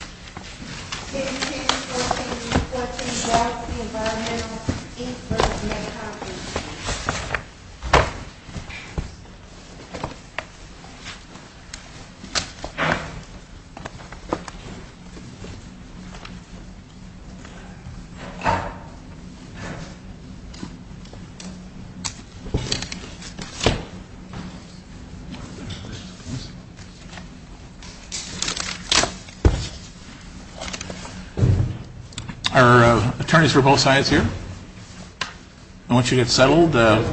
Thank you for supporting what we call the Environmental Inc. v. Meccan Industries. Our attorneys for both sides here. I want you to get settled.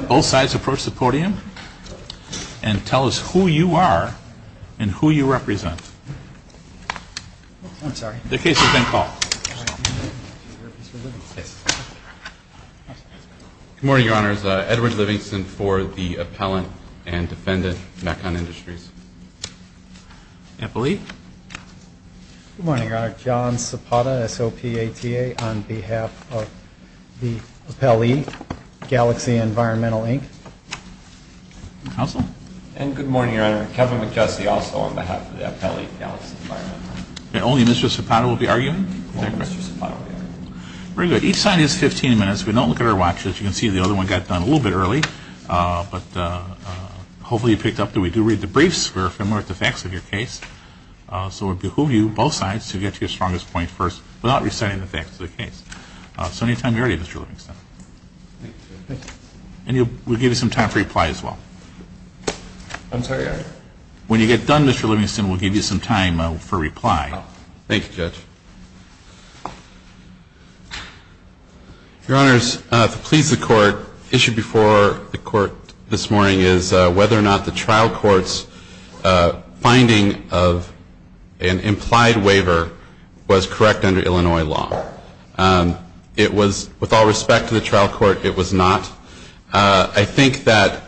Both sides approach the podium and tell us who you are and who you represent. The case has been called. Good morning, Your Honors. Edward Livingston for the Appellant and Defendant, Meccan Industries. Good morning, Your Honor. John Sopata, SOPATA, on behalf of the Appellee, Galaxy Environmental, Inc. And good morning, Your Honor. Kevin McKessie, also on behalf of the Appellee, Galaxy Environmental, Inc. And only Mr. Sopata will be arguing? Only Mr. Sopata will be arguing. Very good. Each side has 15 minutes. We don't look at our watch. As you can see, the other one got done a little bit early. But hopefully you picked up that we do read the briefs. We're familiar with the facts of your case. So we'll behoove you, both sides, to get to your strongest point first without reciting the facts of the case. So anytime you're ready, Mr. Livingston. Thank you. And we'll give you some time for reply as well. I'm sorry? When you get done, Mr. Livingston, we'll give you some time for reply. Thank you, Judge. Your Honors, to please the Court, issued before the Court this morning is whether or not the trial court's finding of an implied waiver was correct under Illinois law. It was, with all respect to the trial court, it was not. I think that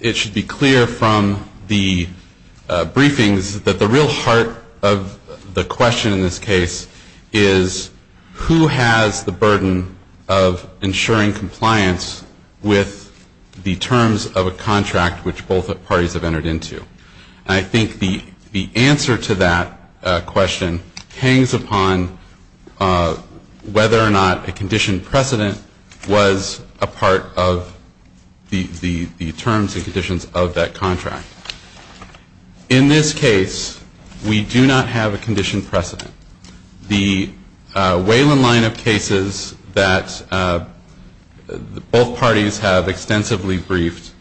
it should be clear from the briefings that the real heart of the question in this case is, who has the burden of ensuring compliance with the terms of a contract which both parties have entered into? I think the answer to that question hangs upon whether or not a conditioned precedent was a part of the terms and conditions of that contract. In this case, we do not have a conditioned precedent. The Wayland line of cases that both parties have extensively briefed,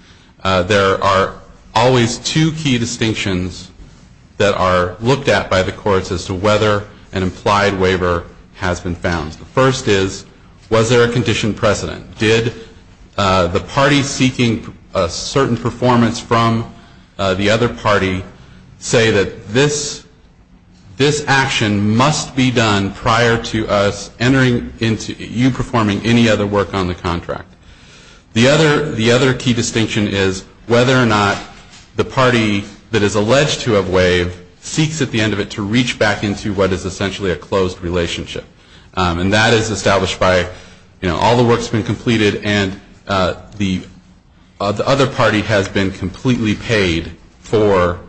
there are always two key distinctions that are looked at by the courts as to whether an implied waiver has been found. The first is, was there a conditioned precedent? Did the party seeking a certain performance from the other party say that this action must be done prior to us entering into you performing any other work on the contract? The other key distinction is whether or not the party that is alleged to have waived seeks at the end of it to reach back into what is essentially a closed relationship. And that is established by, you know, all the work's been completed and the other party has been completely paid for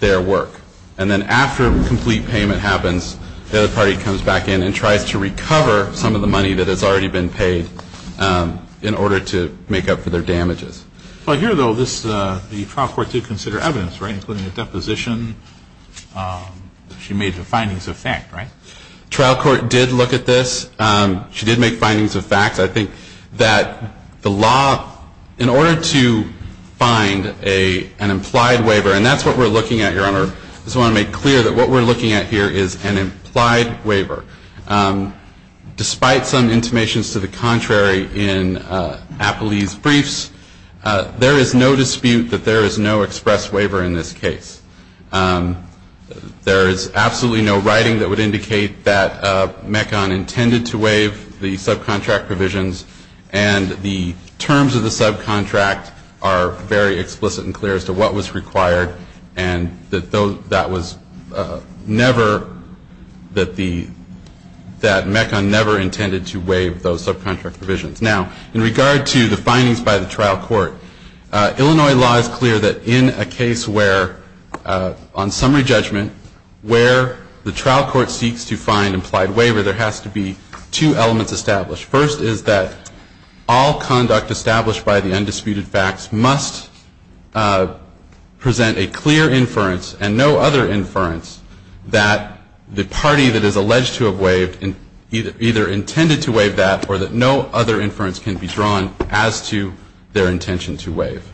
their work. And then after complete payment happens, the other party comes back in and tries to recover some of the money that has already been paid for their work. And the other key distinction is whether or not a conditioned precedent was a part of the terms and conditions of that contract. And that is established by, you know, all the work's been completed and the other party has been completely paid for their work. And then after complete payment happens, the other party comes back in and tries to recover some of the money that has already been paid for their work. And the other key distinction is whether or not a conditioned precedent was a part of the terms and conditions of that contract. Now, in regard to the findings by the trial court, Illinois law is clear that in a case where, on summary judgment, where the trial court seeks to find implied waiver, there has to be two elements established. First is that all conduct established by the undisputed facts must present a clear inference and no other inference that the party that is alleged to have waived either intended to waive that or that no other inference can be drawn as to their intention to waive.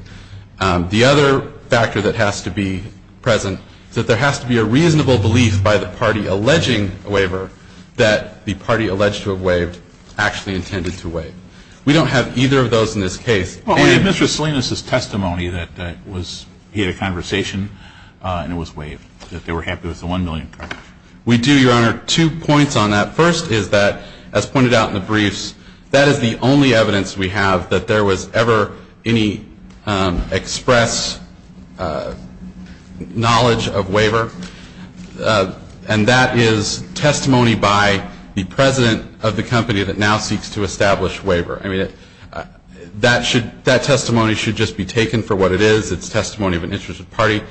The other factor that has to be present is that there has to be a reasonable belief by the party alleging a waiver that the party alleged to have waived actually intended to waive. We don't have either of those in this case. Well, we have Mr. Salinas' testimony that he had a conversation and it was waived, that they were happy with the $1 million contract. We do, Your Honor. Two points on that. First is that, as pointed out in the briefs, that is the only evidence we have that there was ever any express knowledge of waiver. And that is testimony by the president of the company that now seeks to establish waiver. I mean, that testimony should just be taken for what it is. It's testimony of an interested party.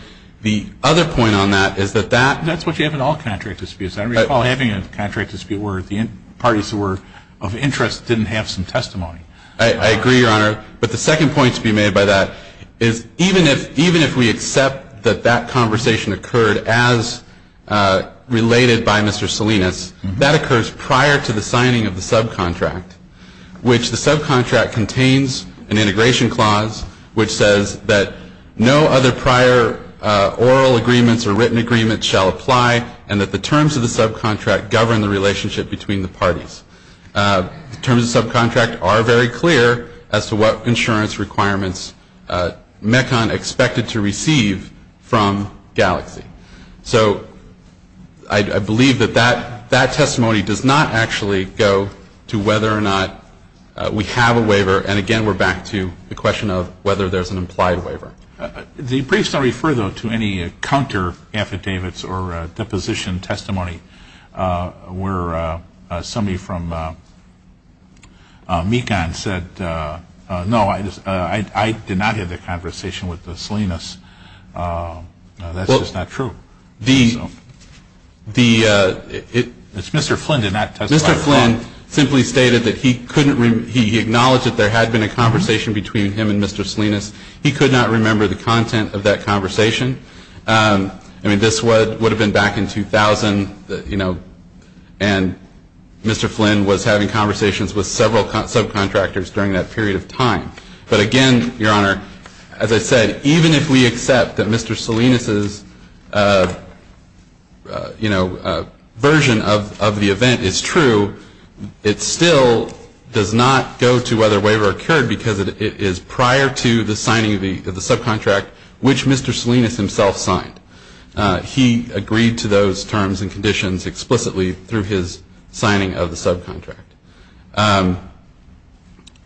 The other point on that is that that — That's what you have in all contract disputes. I recall having a contract dispute where the parties who were of interest didn't have some testimony. I agree, Your Honor. But the second point to be made by that is even if we accept that that conversation occurred as related by Mr. Salinas, that occurs prior to the signing of the subcontract, which the subcontract contains an integration clause which says that no other prior oral agreements or written agreements shall apply and that the terms of the subcontract govern the relationship between the parties. The terms of the subcontract are very clear as to what insurance requirements MECON expected to receive from Galaxy. So I believe that that testimony does not actually go to whether or not we have a waiver. And, again, we're back to the question of whether there's an implied waiver. The briefs don't refer, though, to any counteraffidavits or deposition testimony where somebody from MECON said, no, I did not have that conversation with Salinas. That's just not true. Mr. Flynn did not testify. Mr. Flynn simply stated that he acknowledged that there had been a conversation between him and Mr. Salinas. He could not remember the content of that conversation. I mean, this would have been back in 2000, you know, and Mr. Flynn was having conversations with several subcontractors during that period of time. But, again, Your Honor, as I said, even if we accept that Mr. Salinas' version of the event is true, it still does not go to whether a waiver occurred because it is prior to the signing of the subcontract which Mr. Salinas himself signed. He agreed to those terms and conditions explicitly through his signing of the subcontract.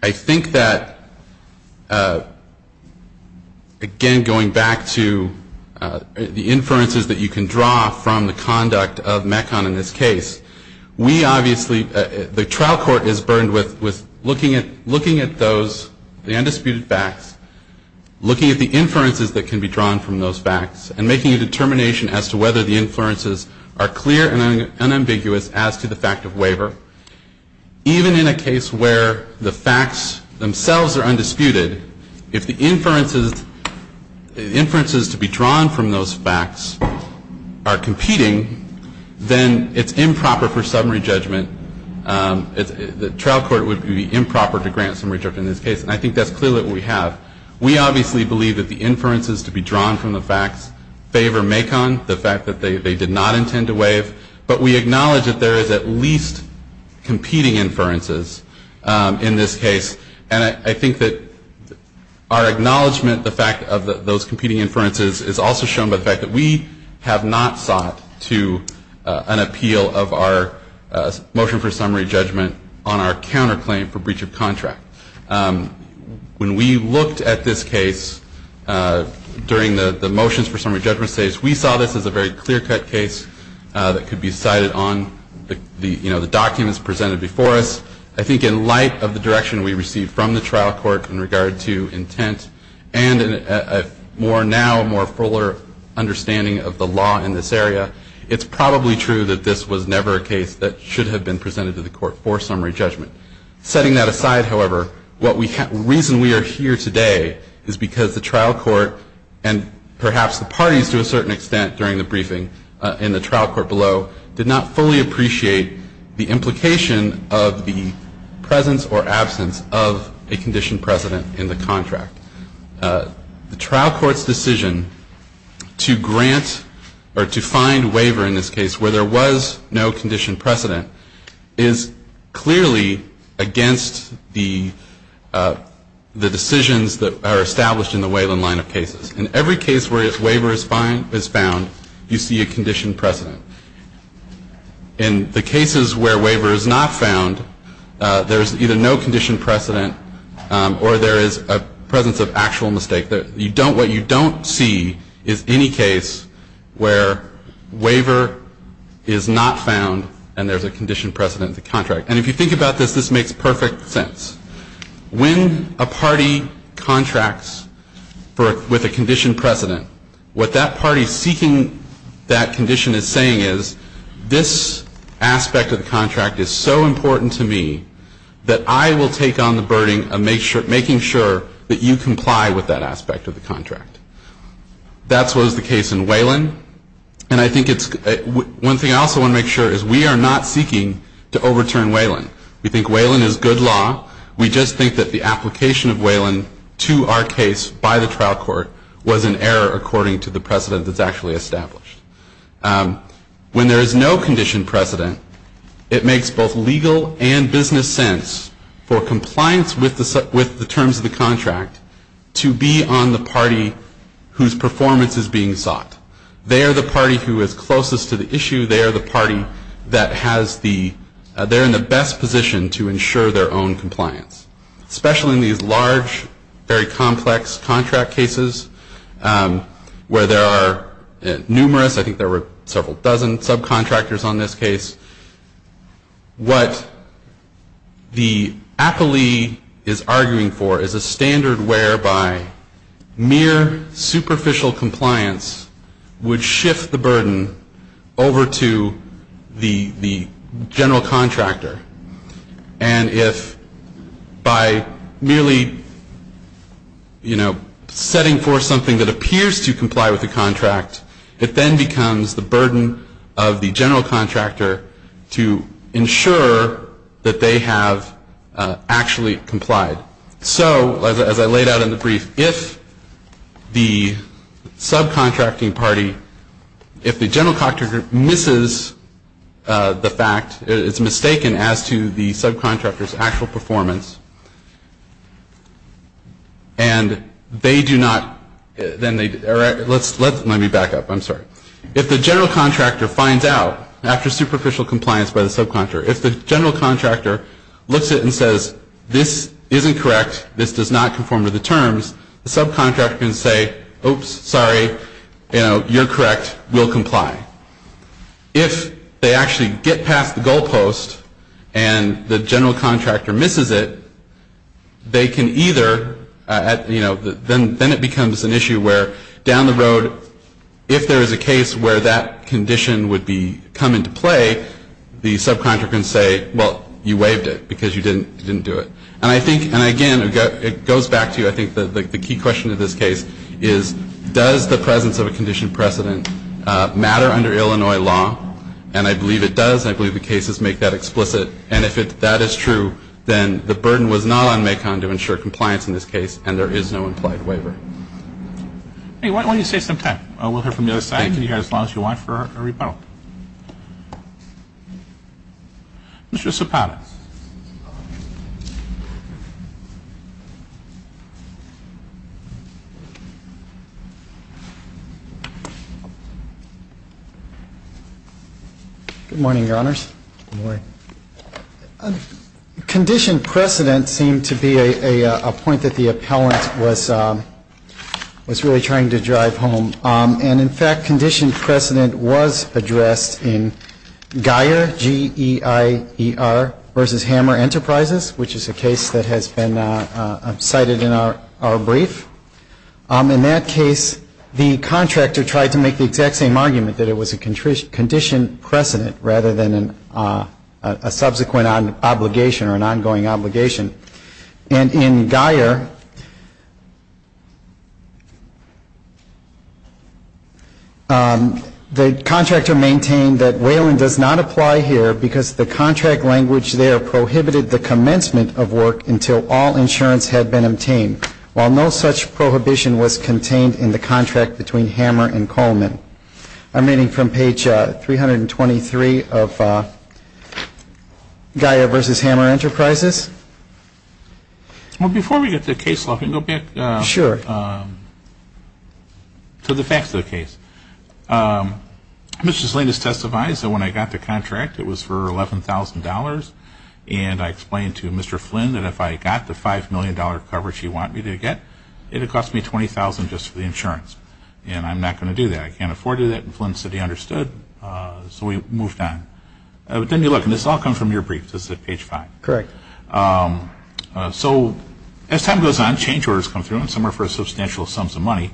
I think that, again, going back to the inferences that you can draw from the conduct of MECON in this case, we obviously, the trial court is burdened with looking at those, the undisputed facts, looking at the inferences that can be drawn from those facts and making a determination as to whether the inferences are clear and unambiguous as to the fact of waiver. Even in a case where the facts themselves are undisputed, if the inferences to be drawn from those facts are competing, then it's improper for summary judgment. The trial court would be improper to grant summary judgment in this case. And I think that's clearly what we have. We obviously believe that the inferences to be drawn from the facts favor MECON, the fact that they did not intend to waive, but we acknowledge that there is at least competing inferences in this case. And I think that our acknowledgment, the fact of those competing inferences, is also shown by the fact that we have not sought to an appeal of our motion for summary judgment on our counterclaim for breach of contract. When we looked at this case during the motions for summary judgment stage, we saw this as a very clear-cut case that could be cited on the documents presented before us. I think in light of the direction we received from the trial court in regard to intent and a more now, more fuller understanding of the law in this area, it's probably true that this was never a case that should have been presented to the court for summary judgment. Setting that aside, however, the reason we are here today is because the trial court and perhaps the parties to a certain extent during the briefing in the trial court below did not fully appreciate the implication of the presence or absence of a conditioned president in the contract. The trial court's decision to grant or to find waiver in this case where there was no conditioned precedent is clearly against the decisions that are established in the Wayland line of cases. In every case where a waiver is found, you see a conditioned precedent. In the cases where waiver is not found, there is either no conditioned precedent or there is a presence of actual mistake. What you don't see is any case where waiver is not found and there's a conditioned precedent in the contract. And if you think about this, this makes perfect sense. When a party contracts with a conditioned precedent, what that party seeking that condition is saying is, this aspect of the contract is so important to me that I will take on the burden of making sure that you comply with that aspect of the contract. That's what is the case in Wayland. And I think it's one thing I also want to make sure is we are not seeking to overturn Wayland. We think Wayland is good law. We just think that the application of Wayland to our case by the trial court was an error according to the precedent that's actually established. When there is no conditioned precedent, it makes both legal and business sense for compliance with the terms of the contract to be on the party whose performance is being sought. They are the party who is closest to the issue. They are the party that has the, they're in the best position to ensure their own compliance. Especially in these large, very complex contract cases where there are numerous, I think there were several dozen subcontractors on this case. What the appellee is arguing for is a standard whereby mere superficial compliance would shift the burden over to the general contractor. And if by merely, you know, setting forth something that appears to comply with the contract, it then becomes the burden of the general contractor to ensure that they have actually complied. So, as I laid out in the brief, if the subcontracting party, if the general contractor misses the fact, it's mistaken as to the subcontractor's actual performance, and they do not, then they, let me back up, I'm sorry. If the general contractor finds out, after superficial compliance by the subcontractor, if the general contractor looks at it and says, this isn't correct, this does not conform to the terms, the subcontractor can say, oops, sorry, you know, you're correct, we'll comply. If they actually get past the goal post and the general contractor misses it, they can either, you know, then it becomes an issue where down the road, if there is a case where that condition would come into play, the subcontractor can say, well, you waived it because you didn't do it. And I think, and again, it goes back to, I think, the key question of this case is, does the presence of a condition precedent matter under Illinois law? And I believe it does, and I believe the cases make that explicit. And if that is true, then the burden was not on Macon to ensure compliance in this case, and there is no implied waiver. Why don't you save some time? We'll hear from the other side, and you can hear as long as you want for our rebuttal. Mr. Cipana. Good morning, Your Honors. Good morning. Condition precedent seemed to be a point that the appellant was really trying to drive home. And, in fact, condition precedent was addressed in Geier, G-E-I-E-R, versus Hammer Enterprises, which is a case that has been cited in our brief. In that case, the contractor tried to make the exact same argument, that it was a condition precedent rather than a subsequent obligation or an ongoing obligation. And in Geier, the contractor maintained that Wayland does not apply here because the contract language there prohibited the commencement of work until all insurance had been obtained, while no such prohibition was contained in the contract between Hammer and Coleman. I'm reading from page 323 of Geier versus Hammer Enterprises. Well, before we get to the case, let me go back to the facts of the case. Mr. Zlinas testified that when I got the contract, it was for $11,000, and I explained to Mr. Flynn that if I got the $5 million coverage he wanted me to get, it would cost me $20,000 just for the insurance. And I'm not going to do that. I can't afford to do that. And Flynn said he understood, so we moved on. But then you look, and this all comes from your brief. This is at page 5. Correct. So as time goes on, change orders come through, and some are for substantial sums of money.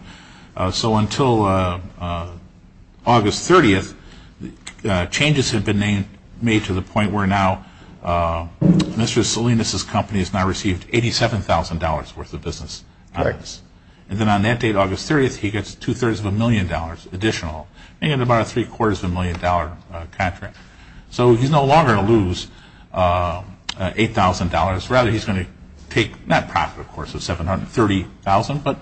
So until August 30th, changes had been made to the point where now Mr. Zlinas' company has now received $87,000 worth of business. Correct. And then on that date, August 30th, he gets two-thirds of a million dollars additional, making it about a three-quarters of a million dollar contract. So he's no longer going to lose $8,000. Rather, he's going to take net profit, of course, of $730,000, but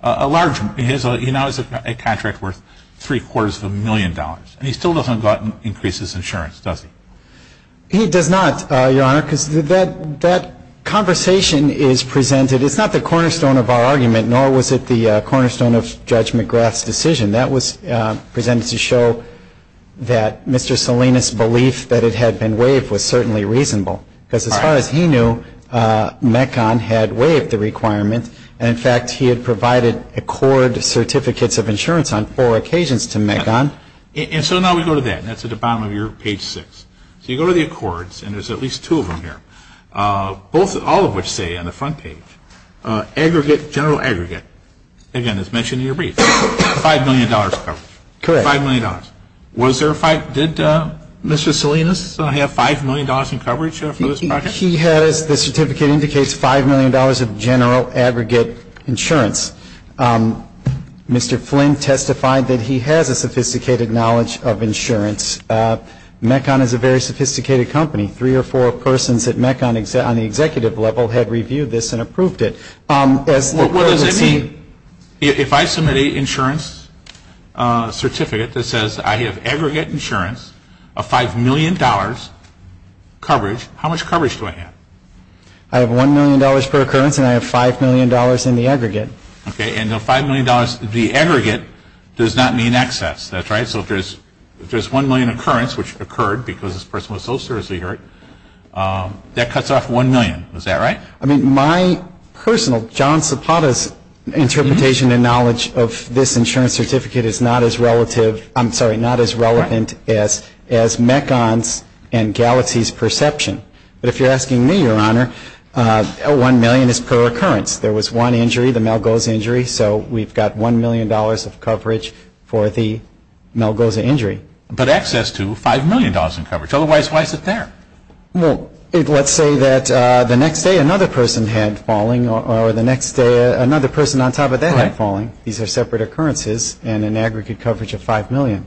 a large amount. He now has a contract worth three-quarters of a million dollars. And he still doesn't increase his insurance, does he? He does not, Your Honor, because that conversation is presented. It's not the cornerstone of our argument, nor was it the cornerstone of Judge McGrath's decision. That was presented to show that Mr. Zlinas' belief that it had been waived was certainly reasonable, because as far as he knew, MECON had waived the requirement, and, in fact, he had provided Accord certificates of insurance on four occasions to MECON. And so now we go to that, and that's at the bottom of your page 6. So you go to the Accords, and there's at least two of them here, all of which say on the front page, aggregate, general aggregate. Again, as mentioned in your brief, $5 million coverage. Correct. $5 million. Did Mr. Zlinas have $5 million in coverage for this project? He has. The certificate indicates $5 million of general aggregate insurance. Mr. Flynn testified that he has a sophisticated knowledge of insurance. MECON is a very sophisticated company. Three or four persons at MECON on the executive level had reviewed this and approved it. What does that mean? If I submit an insurance certificate that says I have aggregate insurance of $5 million coverage, how much coverage do I have? I have $1 million per occurrence, and I have $5 million in the aggregate. Okay. And the $5 million, the aggregate does not mean excess. That's right. So if there's $1 million occurrence, which occurred because this person was so seriously hurt, that cuts off $1 million. Is that right? I mean, my personal, John Zapata's interpretation and knowledge of this insurance certificate is not as relative, I'm sorry, not as relevant as MECON's and Galaxy's perception. But if you're asking me, Your Honor, $1 million is per occurrence. There was one injury, the Malgoza injury, so we've got $1 million of coverage for the Malgoza injury. But access to $5 million in coverage. Otherwise, why is it there? Well, let's say that the next day another person had falling or the next day another person on top of that had falling. These are separate occurrences and an aggregate coverage of $5 million.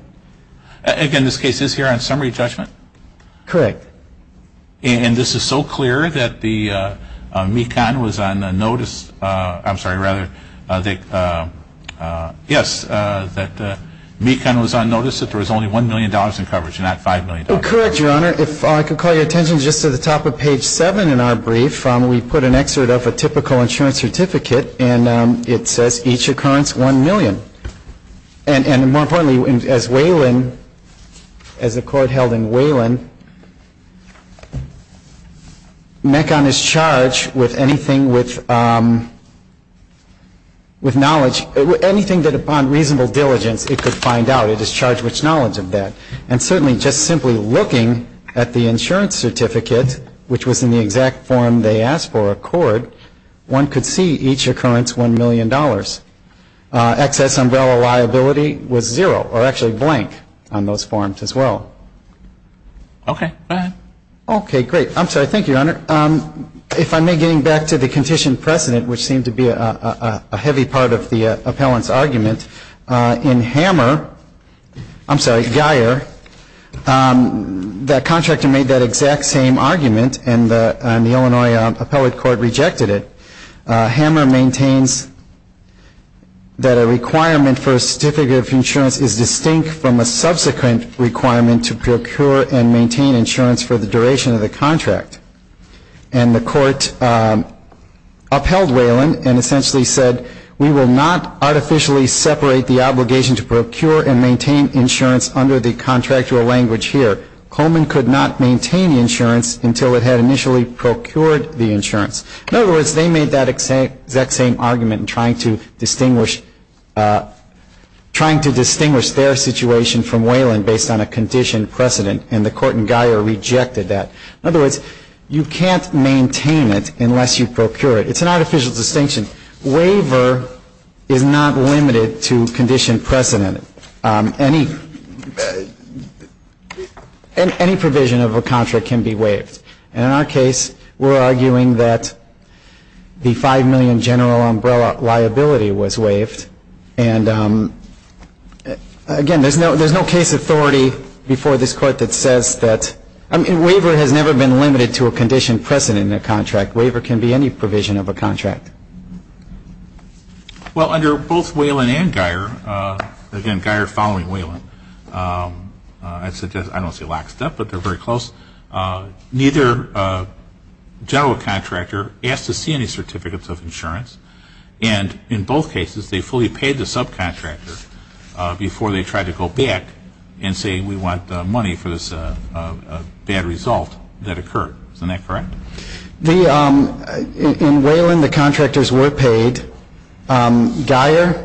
Again, this case is here on summary judgment? Correct. And this is so clear that the MECON was on notice, I'm sorry, rather, yes, that MECON was on notice that there was only $1 million in coverage and not $5 million. Correct, Your Honor. If I could call your attention just to the top of page 7 in our brief, we put an excerpt of a typical insurance certificate and it says each occurrence $1 million. And more importantly, as Waylon, as a court held in Waylon, MECON is charged with anything with knowledge, anything that upon reasonable diligence it could find out. It is charged with knowledge of that. And certainly just simply looking at the insurance certificate, which was in the exact form they asked for a court, one could see each occurrence $1 million. Excess umbrella liability was zero or actually blank on those forms as well. Okay, go ahead. Okay, great. I'm sorry, thank you, Your Honor. If I may, getting back to the condition precedent, which seemed to be a heavy part of the appellant's argument, in Hammer, I'm sorry, Guyer, that contractor made that exact same argument and the Illinois appellate court rejected it. Hammer maintains that a requirement for a certificate of insurance is distinct from a subsequent requirement to procure and maintain insurance for the duration of the contract. And the court upheld Waylon and essentially said, we will not artificially separate the obligation to procure and maintain insurance under the contractual language here. Coleman could not maintain insurance until it had initially procured the insurance. In other words, they made that exact same argument in trying to distinguish their situation from Waylon based on a condition precedent, and the court in Guyer rejected that. In other words, you can't maintain it unless you procure it. It's an artificial distinction. Waiver is not limited to condition precedent. Any provision of a contract can be waived. And in our case, we're arguing that the $5 million general umbrella liability was waived. And again, there's no case authority before this Court that says that waiver has never been limited to a condition precedent in a contract. But waiver can be any provision of a contract. Well, under both Waylon and Guyer, again, Guyer following Waylon, I don't say lockstep, but they're very close, neither general contractor asked to see any certificates of insurance. And in both cases, they fully paid the subcontractor before they tried to go back and say, we want money for this bad result that occurred. Isn't that correct? In Waylon, the contractors were paid. Guyer,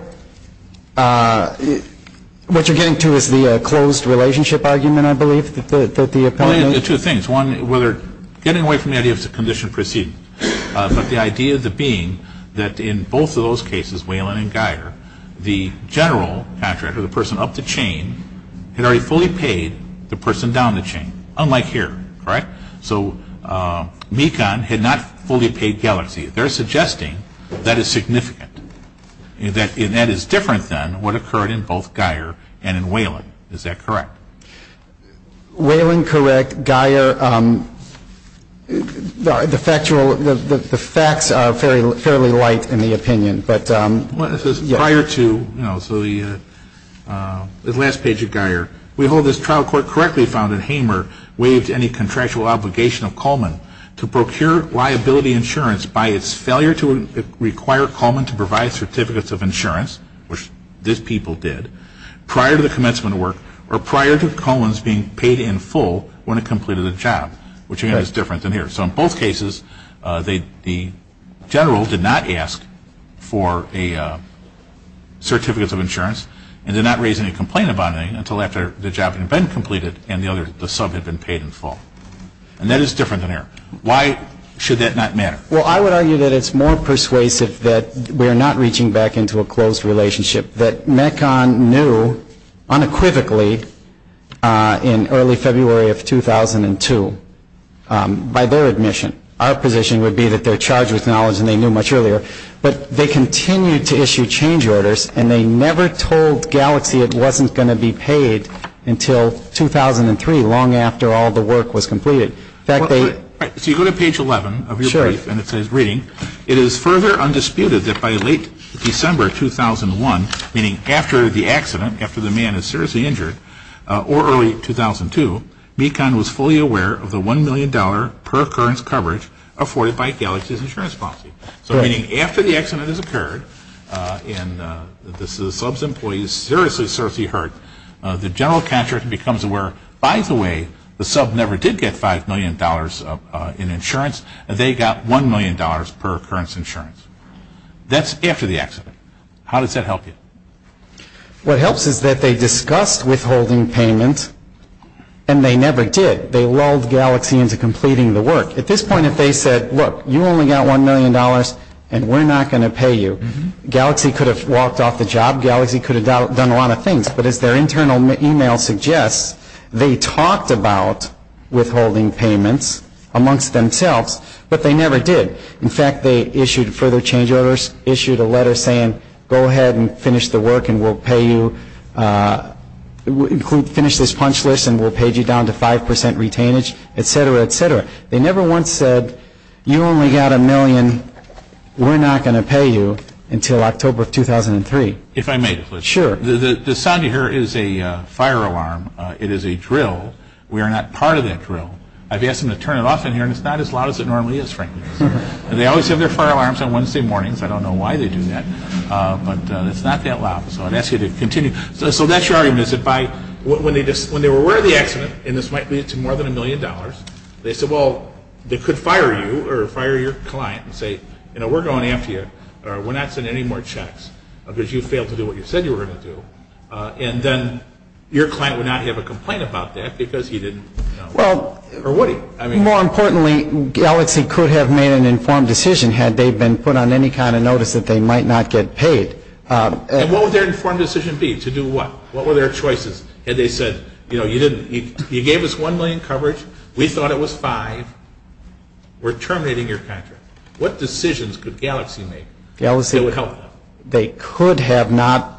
what you're getting to is the closed relationship argument, I believe, that the appellee made. Two things. One, getting away from the idea of condition precedent, but the idea being that in both of those cases, Waylon and Guyer, the general contractor, the person up the chain, had already fully paid the person down the chain, unlike here. Correct? So Mekon had not fully paid Galaxy. They're suggesting that is significant, that that is different than what occurred in both Guyer and in Waylon. Is that correct? Waylon, correct. Guyer, the facts are fairly light in the opinion. Prior to, so the last page of Guyer, we hold this trial court correctly found that Hamer waived any contractual obligation of Coleman to procure liability insurance by its failure to require Coleman to provide certificates of insurance, which these people did, prior to the commencement work, or prior to Coleman's being paid in full when it completed the job, which again is different than here. So in both cases, the general did not ask for a certificate of insurance and did not raise any complaint about it until after the job had been completed and the sub had been paid in full. And that is different than here. Why should that not matter? Well, I would argue that it's more persuasive that we are not reaching back into a closed relationship, that Mekon knew unequivocally in early February of 2002, by their admission. Our position would be that they're charged with knowledge and they knew much earlier. But they continued to issue change orders and they never told Galaxy it wasn't going to be paid until 2003, long after all the work was completed. So you go to page 11 of your brief and it says reading, it is further undisputed that by late December 2001, meaning after the accident, after the man is seriously injured, or early 2002, Mekon was fully aware of the $1 million per occurrence coverage afforded by Galaxy's insurance policy. So meaning after the accident has occurred, and the sub's employee is seriously, seriously hurt, the general contractor becomes aware, by the way, the sub never did get $5 million in insurance. They got $1 million per occurrence insurance. That's after the accident. How does that help you? What helps is that they discussed withholding payment and they never did. They lulled Galaxy into completing the work. At this point, if they said, look, you only got $1 million and we're not going to pay you, Galaxy could have walked off the job. Galaxy could have done a lot of things. But as their internal email suggests, they talked about withholding payments amongst themselves, but they never did. In fact, they issued further change orders, issued a letter saying, go ahead and finish the work and we'll pay you, finish this punch list and we'll pay you down to 5% retainage, et cetera, et cetera. They never once said, you only got $1 million, we're not going to pay you until October of 2003. If I may, please. Sure. The sound you hear is a fire alarm. It is a drill. We are not part of that drill. I've asked them to turn it off in here and it's not as loud as it normally is, frankly. They always have their fire alarms on Wednesday mornings. I don't know why they do that, but it's not that loud. So I'd ask you to continue. So that's your argument, is that when they were aware of the accident, and this might lead to more than $1 million, they said, well, they could fire you or fire your client and say, you know, we're going after you. We're not sending any more checks because you failed to do what you said you were going to do. And then your client would not have a complaint about that because he didn't know. Well, more importantly, Galaxy could have made an informed decision had they been put on any kind of notice that they might not get paid. And what would their informed decision be? To do what? What were their choices? Had they said, you know, you gave us $1 million in coverage, we thought it was five, we're terminating your contract. What decisions could Galaxy make that would help them? They could have not.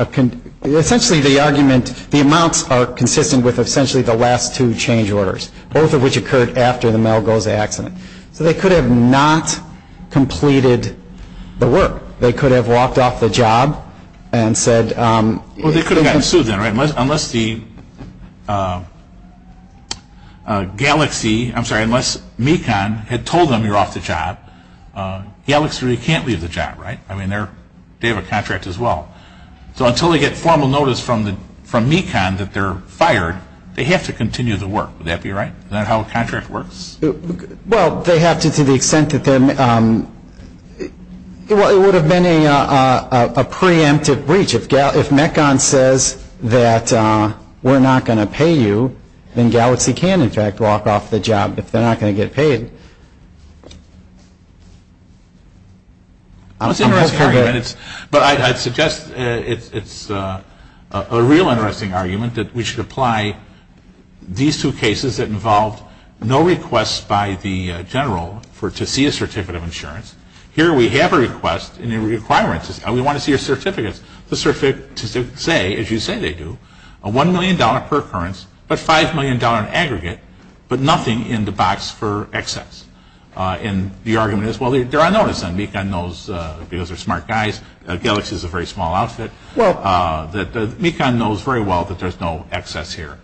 Essentially the argument, the amounts are consistent with essentially the last two change orders, both of which occurred after the Malgoza accident. So they could have not completed the work. They could have walked off the job and said. Well, they could have gotten sued then, right? Unless the Galaxy, I'm sorry, unless MECON had told them you're off the job, Galaxy really can't leave the job, right? I mean, they have a contract as well. So until they get formal notice from MECON that they're fired, they have to continue the work. Would that be right? Is that how a contract works? Well, they have to to the extent that they're, it would have been a preemptive breach. If MECON says that we're not going to pay you, then Galaxy can in fact walk off the job if they're not going to get paid. That's an interesting argument. But I'd suggest it's a real interesting argument that we should apply these two cases that involved no request by the general to see a certificate of insurance. Here we have a request and a requirement. We want to see your certificates. The certificates say, as you say they do, a $1 million per occurrence, but $5 million in aggregate, but nothing in the box for excess. And the argument is, well, they're on notice then. MECON knows because they're smart guys. Galaxy is a very small outfit. MECON knows very well that there's no excess here.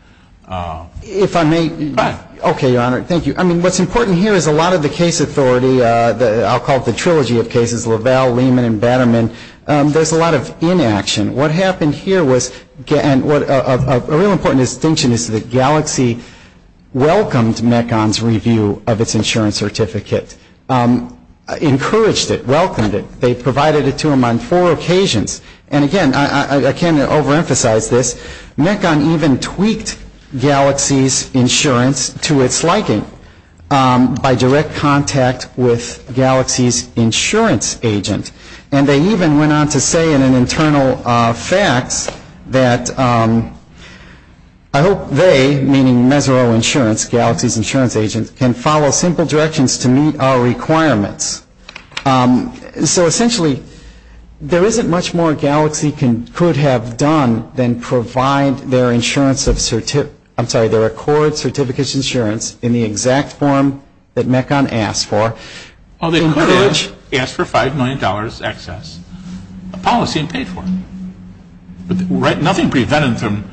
If I may? Go ahead. Okay, Your Honor, thank you. I mean, what's important here is a lot of the case authority, I'll call it the trilogy of cases, LaValle, Lehman, and Batterman, there's a lot of inaction. What happened here was a real important distinction is that Galaxy welcomed MECON's review of its insurance certificate, encouraged it, welcomed it. They provided it to them on four occasions. And again, I can't overemphasize this. MECON even tweaked Galaxy's insurance to its liking by direct contact with Galaxy's insurance agent. And they even went on to say in an internal fax that, I hope they, meaning Mesereau Insurance, Galaxy's insurance agent, can follow simple directions to meet our requirements. So essentially, there isn't much more Galaxy could have done than provide their insurance, I'm sorry, their Accord Certificates insurance in the exact form that MECON asked for. Well, they could have asked for $5 million excess, a policy and paid for it. But nothing prevented them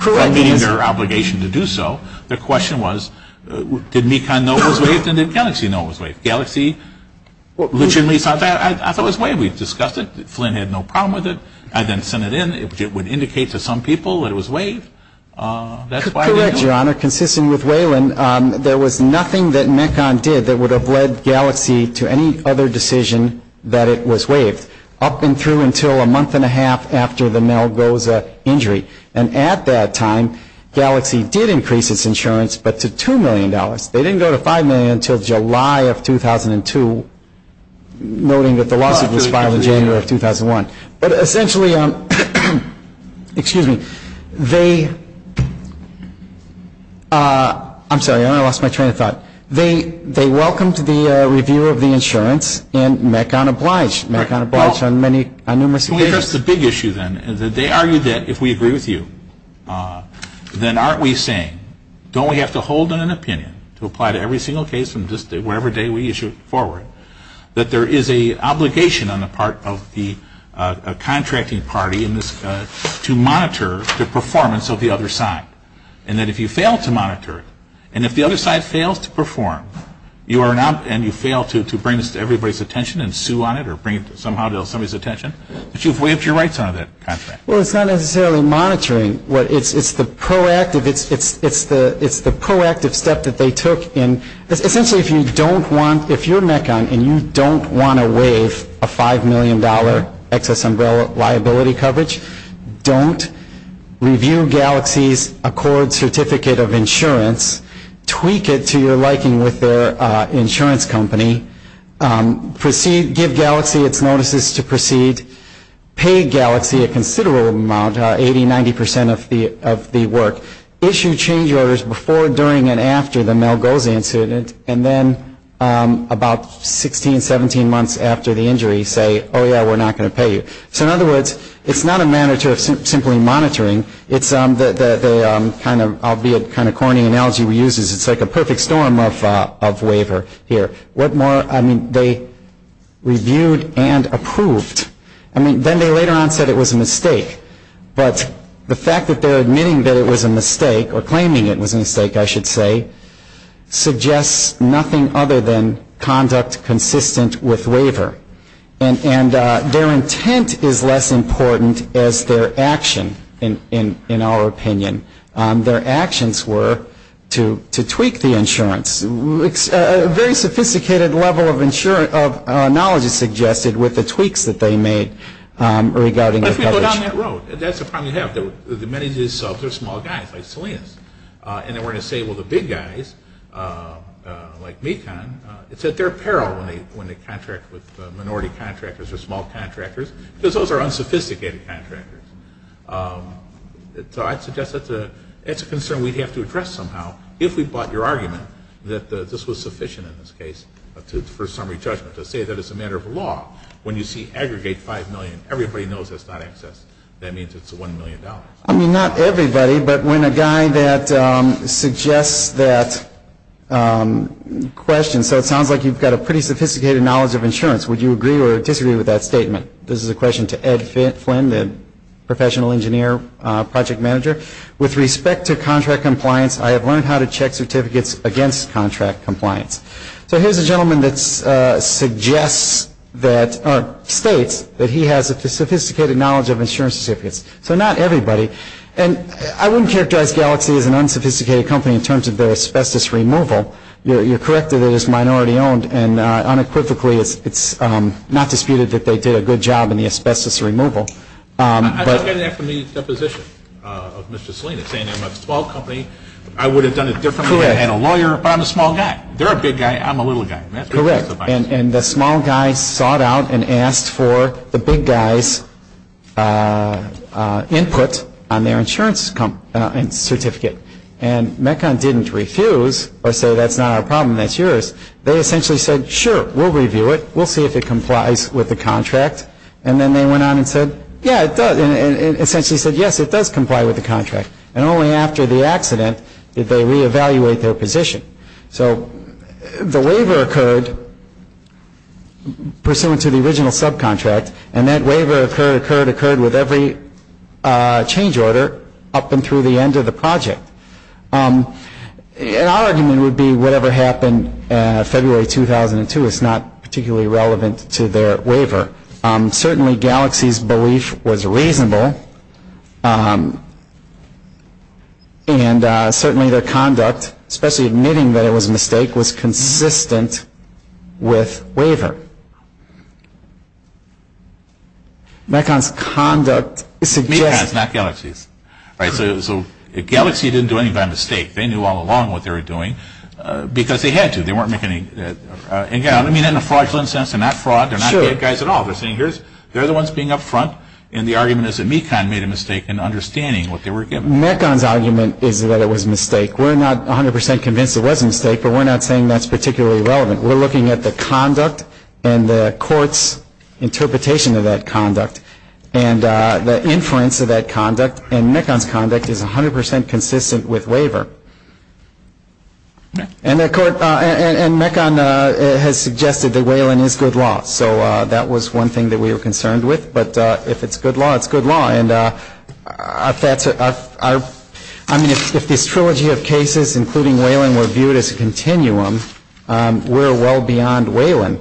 from meeting their obligation to do so. The question was, did MECON know it was waived and did Galaxy know it was waived? Did Galaxy legitimately sign that? I thought it was waived. We discussed it. Flynn had no problem with it. I then sent it in. It would indicate to some people that it was waived. That's why I didn't know. Correct, Your Honor. Consisting with Wayland, there was nothing that MECON did that would have led Galaxy to any other decision that it was waived, up and through until a month and a half after the Malgoza injury. And at that time, Galaxy did increase its insurance, but to $2 million. They didn't go to $5 million until July of 2002, noting that the lawsuit was filed in January of 2001. But essentially, excuse me, they, I'm sorry, I lost my train of thought. They welcomed the review of the insurance and MECON obliged. MECON obliged on numerous occasions. Well, here's the big issue then. They argued that if we agree with you, then aren't we saying, don't we have to hold an opinion to apply to every single case from just whatever day we issue it forward, that there is an obligation on the part of the contracting party to monitor the performance of the other side. And that if you fail to monitor it, and if the other side fails to perform, and you fail to bring this to everybody's attention and sue on it or bring it somehow to somebody's attention, that you've waived your rights under that contract. Well, it's not necessarily monitoring. It's the proactive step that they took. Essentially, if you don't want, if you're MECON and you don't want to waive a $5 million excess liability coverage, don't review Galaxy's Accord Certificate of Insurance, tweak it to your liking with their insurance company, give Galaxy its notices to proceed, pay Galaxy a considerable amount, 80%, 90% of the work, issue change orders before, during, and after the Mel-Goz incident, and then about 16, 17 months after the injury, say, oh yeah, we're not going to pay you. So in other words, it's not a matter of simply monitoring. It's the kind of corny analogy we use is it's like a perfect storm of waiver here. What more, I mean, they reviewed and approved. I mean, then they later on said it was a mistake. But the fact that they're admitting that it was a mistake or claiming it was a mistake, I should say, suggests nothing other than conduct consistent with waiver. And their intent is less important as their action, in our opinion. Their actions were to tweak the insurance. A very sophisticated level of knowledge is suggested with the tweaks that they made regarding the coverage. Let's go down that road. That's a problem you have. Many of these subs are small guys like Salinas. And they were going to say, well, the big guys like Mekon, it's at their peril when they contract with minority contractors or small contractors because those are unsophisticated contractors. So I'd suggest that's a concern we'd have to address somehow if we bought your argument that this was sufficient in this case for summary judgment to say that it's a matter of law. When you see aggregate $5 million, everybody knows that's not excess. That means it's $1 million. I mean, not everybody, but when a guy that suggests that question, so it sounds like you've got a pretty sophisticated knowledge of insurance. Would you agree or disagree with that statement? This is a question to Ed Flynn, the professional engineer project manager. With respect to contract compliance, I have learned how to check certificates against contract compliance. So here's a gentleman that states that he has a sophisticated knowledge of insurance certificates. So not everybody. And I wouldn't characterize Galaxy as an unsophisticated company in terms of their asbestos removal. You're correct that it is minority owned. And unequivocally, it's not disputed that they did a good job in the asbestos removal. I took an FME deposition of Mr. Selina saying they're a small company. I would have done it differently had I had a lawyer, but I'm a small guy. They're a big guy. I'm a little guy. Correct. And the small guy sought out and asked for the big guy's input on their insurance certificate. And Mekon didn't refuse or say that's not our problem, that's yours. They essentially said, sure, we'll review it. We'll see if it complies with the contract. And then they went on and said, yeah, it does. And essentially said, yes, it does comply with the contract. And only after the accident did they reevaluate their position. So the waiver occurred pursuant to the original subcontract. And that waiver occurred, occurred, occurred with every change order up and through the end of the project. And our argument would be whatever happened February 2002 is not particularly relevant to their waiver. Certainly Galaxy's belief was reasonable. And certainly their conduct, especially admitting that it was a mistake, was consistent with waiver. Mekon's conduct suggests. Mekon's, not Galaxy's. Right. So Galaxy didn't do anything by mistake. They knew all along what they were doing because they had to. They weren't making any, I mean, in a fraudulent sense, they're not fraud. They're not big guys at all. They're saying they're the ones being up front. And the argument is that Mekon made a mistake in understanding what they were given. Mekon's argument is that it was a mistake. We're not 100% convinced it was a mistake, but we're not saying that's particularly relevant. We're looking at the conduct and the court's interpretation of that conduct and the inference of that conduct, and Mekon's conduct is 100% consistent with waiver. And Mekon has suggested that Whalen is good law. So that was one thing that we were concerned with. But if it's good law, it's good law. And I mean, if this trilogy of cases, including Whalen, were viewed as a continuum, we're well beyond Whalen.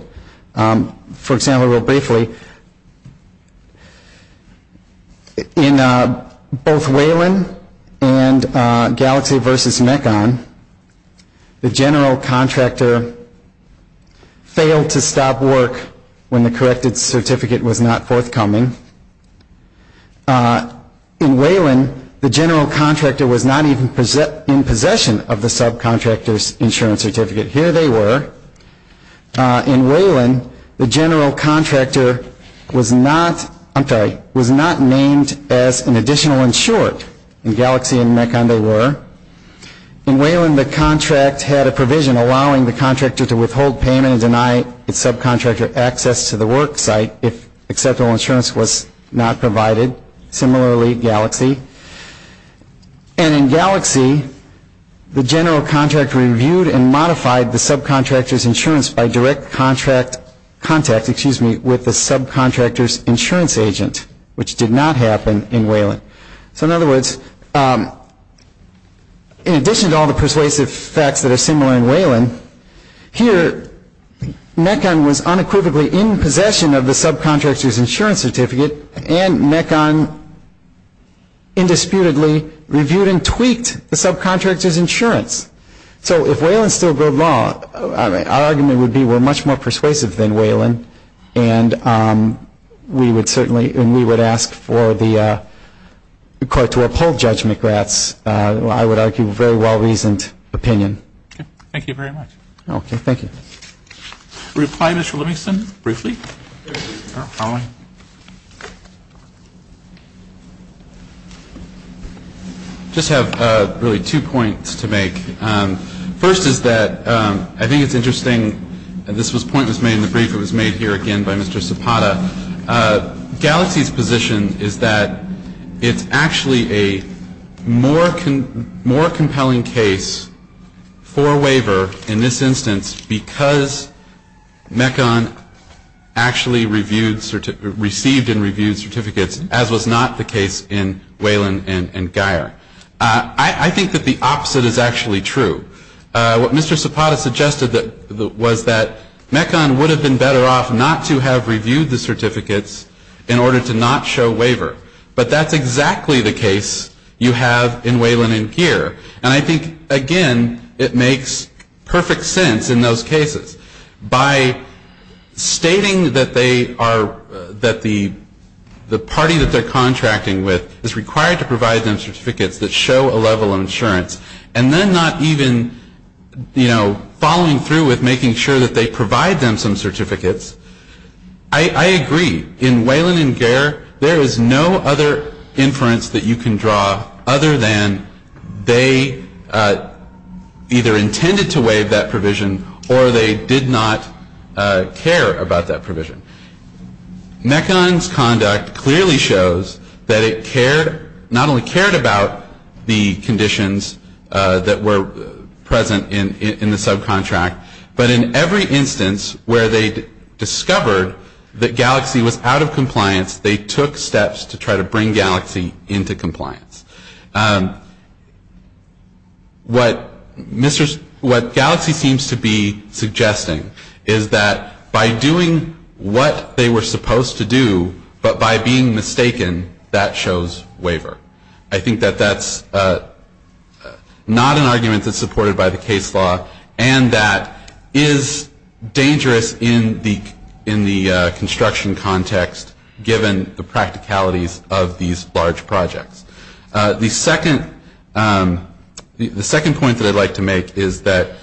For example, real briefly, in both Whalen and Galaxy v. Mekon, the general contractor failed to stop work when the corrected certificate was not forthcoming. In Whalen, the general contractor was not even in possession of the subcontractor's insurance certificate. Here they were. In Whalen, the general contractor was not named as an additional insured. In Galaxy and Mekon, they were. In Whalen, the contract had a provision allowing the contractor to withhold payment and deny its subcontractor access to the work site if acceptable insurance was not provided. Similarly, Galaxy. And in Galaxy, the general contractor reviewed and modified the subcontractor's insurance by direct contact with the subcontractor's insurance agent, which did not happen in Whalen. So in other words, in addition to all the persuasive facts that are similar in Whalen, here Mekon was unequivocally in possession of the subcontractor's insurance certificate and Mekon indisputably reviewed and tweaked the subcontractor's insurance. So if Whalen still broke law, our argument would be we're much more persuasive than Whalen and we would ask for the court to uphold Judge McGrath's, I would argue, very well-reasoned opinion. Thank you very much. Okay, thank you. A reply, Mr. Livingston, briefly? Following. I just have really two points to make. First is that I think it's interesting. This point was made in the brief. It was made here again by Mr. Zapata. Galaxy's position is that it's actually a more compelling case for waiver in this instance because Mekon actually received and reviewed certificates, as was not the case in Whalen and Guyer. I think that the opposite is actually true. What Mr. Zapata suggested was that Mekon would have been better off not to have reviewed the certificates in order to not show waiver. But that's exactly the case you have in Whalen and Guyer. And I think, again, it makes perfect sense in those cases. By stating that the party that they're contracting with is required to provide them certificates that show a level of insurance, and then not even following through with making sure that they provide them some certificates, I agree. In Whalen and Guyer, there is no other inference that you can draw other than they either intended to waive that provision or they did not care about that provision. Mekon's conduct clearly shows that it not only cared about the conditions that were present in the subcontract, but in every instance where they discovered that Galaxy was out of compliance, they took steps to try to bring Galaxy into compliance. What Galaxy seems to be suggesting is that by doing what they were supposed to do, but by being mistaken, that shows waiver. I think that that's not an argument that's supported by the case law, and that is dangerous in the construction context, given the practicalities of these large projects. The second point that I'd like to make is that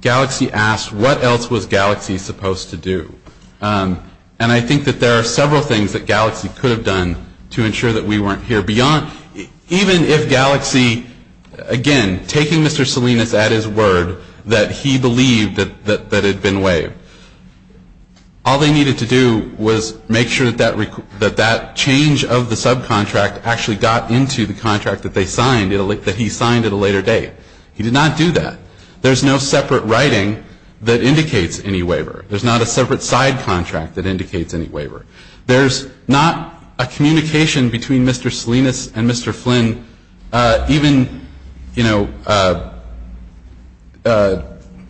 Galaxy asked, what else was Galaxy supposed to do? And I think that there are several things that Galaxy could have done to ensure that we weren't here. Even if Galaxy, again, taking Mr. Salinas at his word that he believed that it had been waived, all they needed to do was make sure that that change of the subcontract actually got into the contract that he signed at a later date. He did not do that. There's no separate writing that indicates any waiver. There's not a separate side contract that indicates any waiver. There's not a communication between Mr. Salinas and Mr. Flynn, even, you know,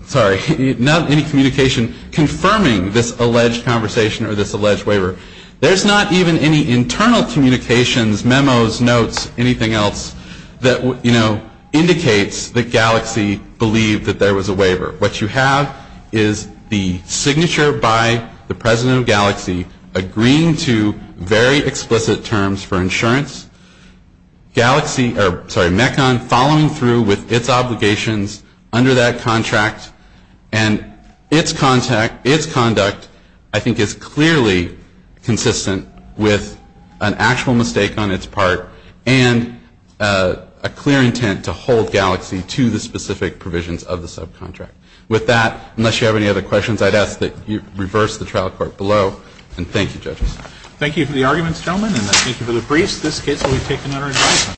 sorry, not any communication confirming this alleged conversation or this alleged waiver. There's not even any internal communications, memos, notes, anything else, that, you know, indicates that Galaxy believed that there was a waiver. What you have is the signature by the president of Galaxy agreeing to very explicit terms for insurance. Mekon following through with its obligations under that contract. And its conduct, I think, is clearly consistent with an actual mistake on its part and a clear intent to hold Galaxy to the specific provisions of the subcontract. With that, unless you have any other questions, I'd ask that you reverse the trial court below. And thank you, judges. Thank you for the arguments, gentlemen, and thank you for the briefs. This case will be taken under investigation.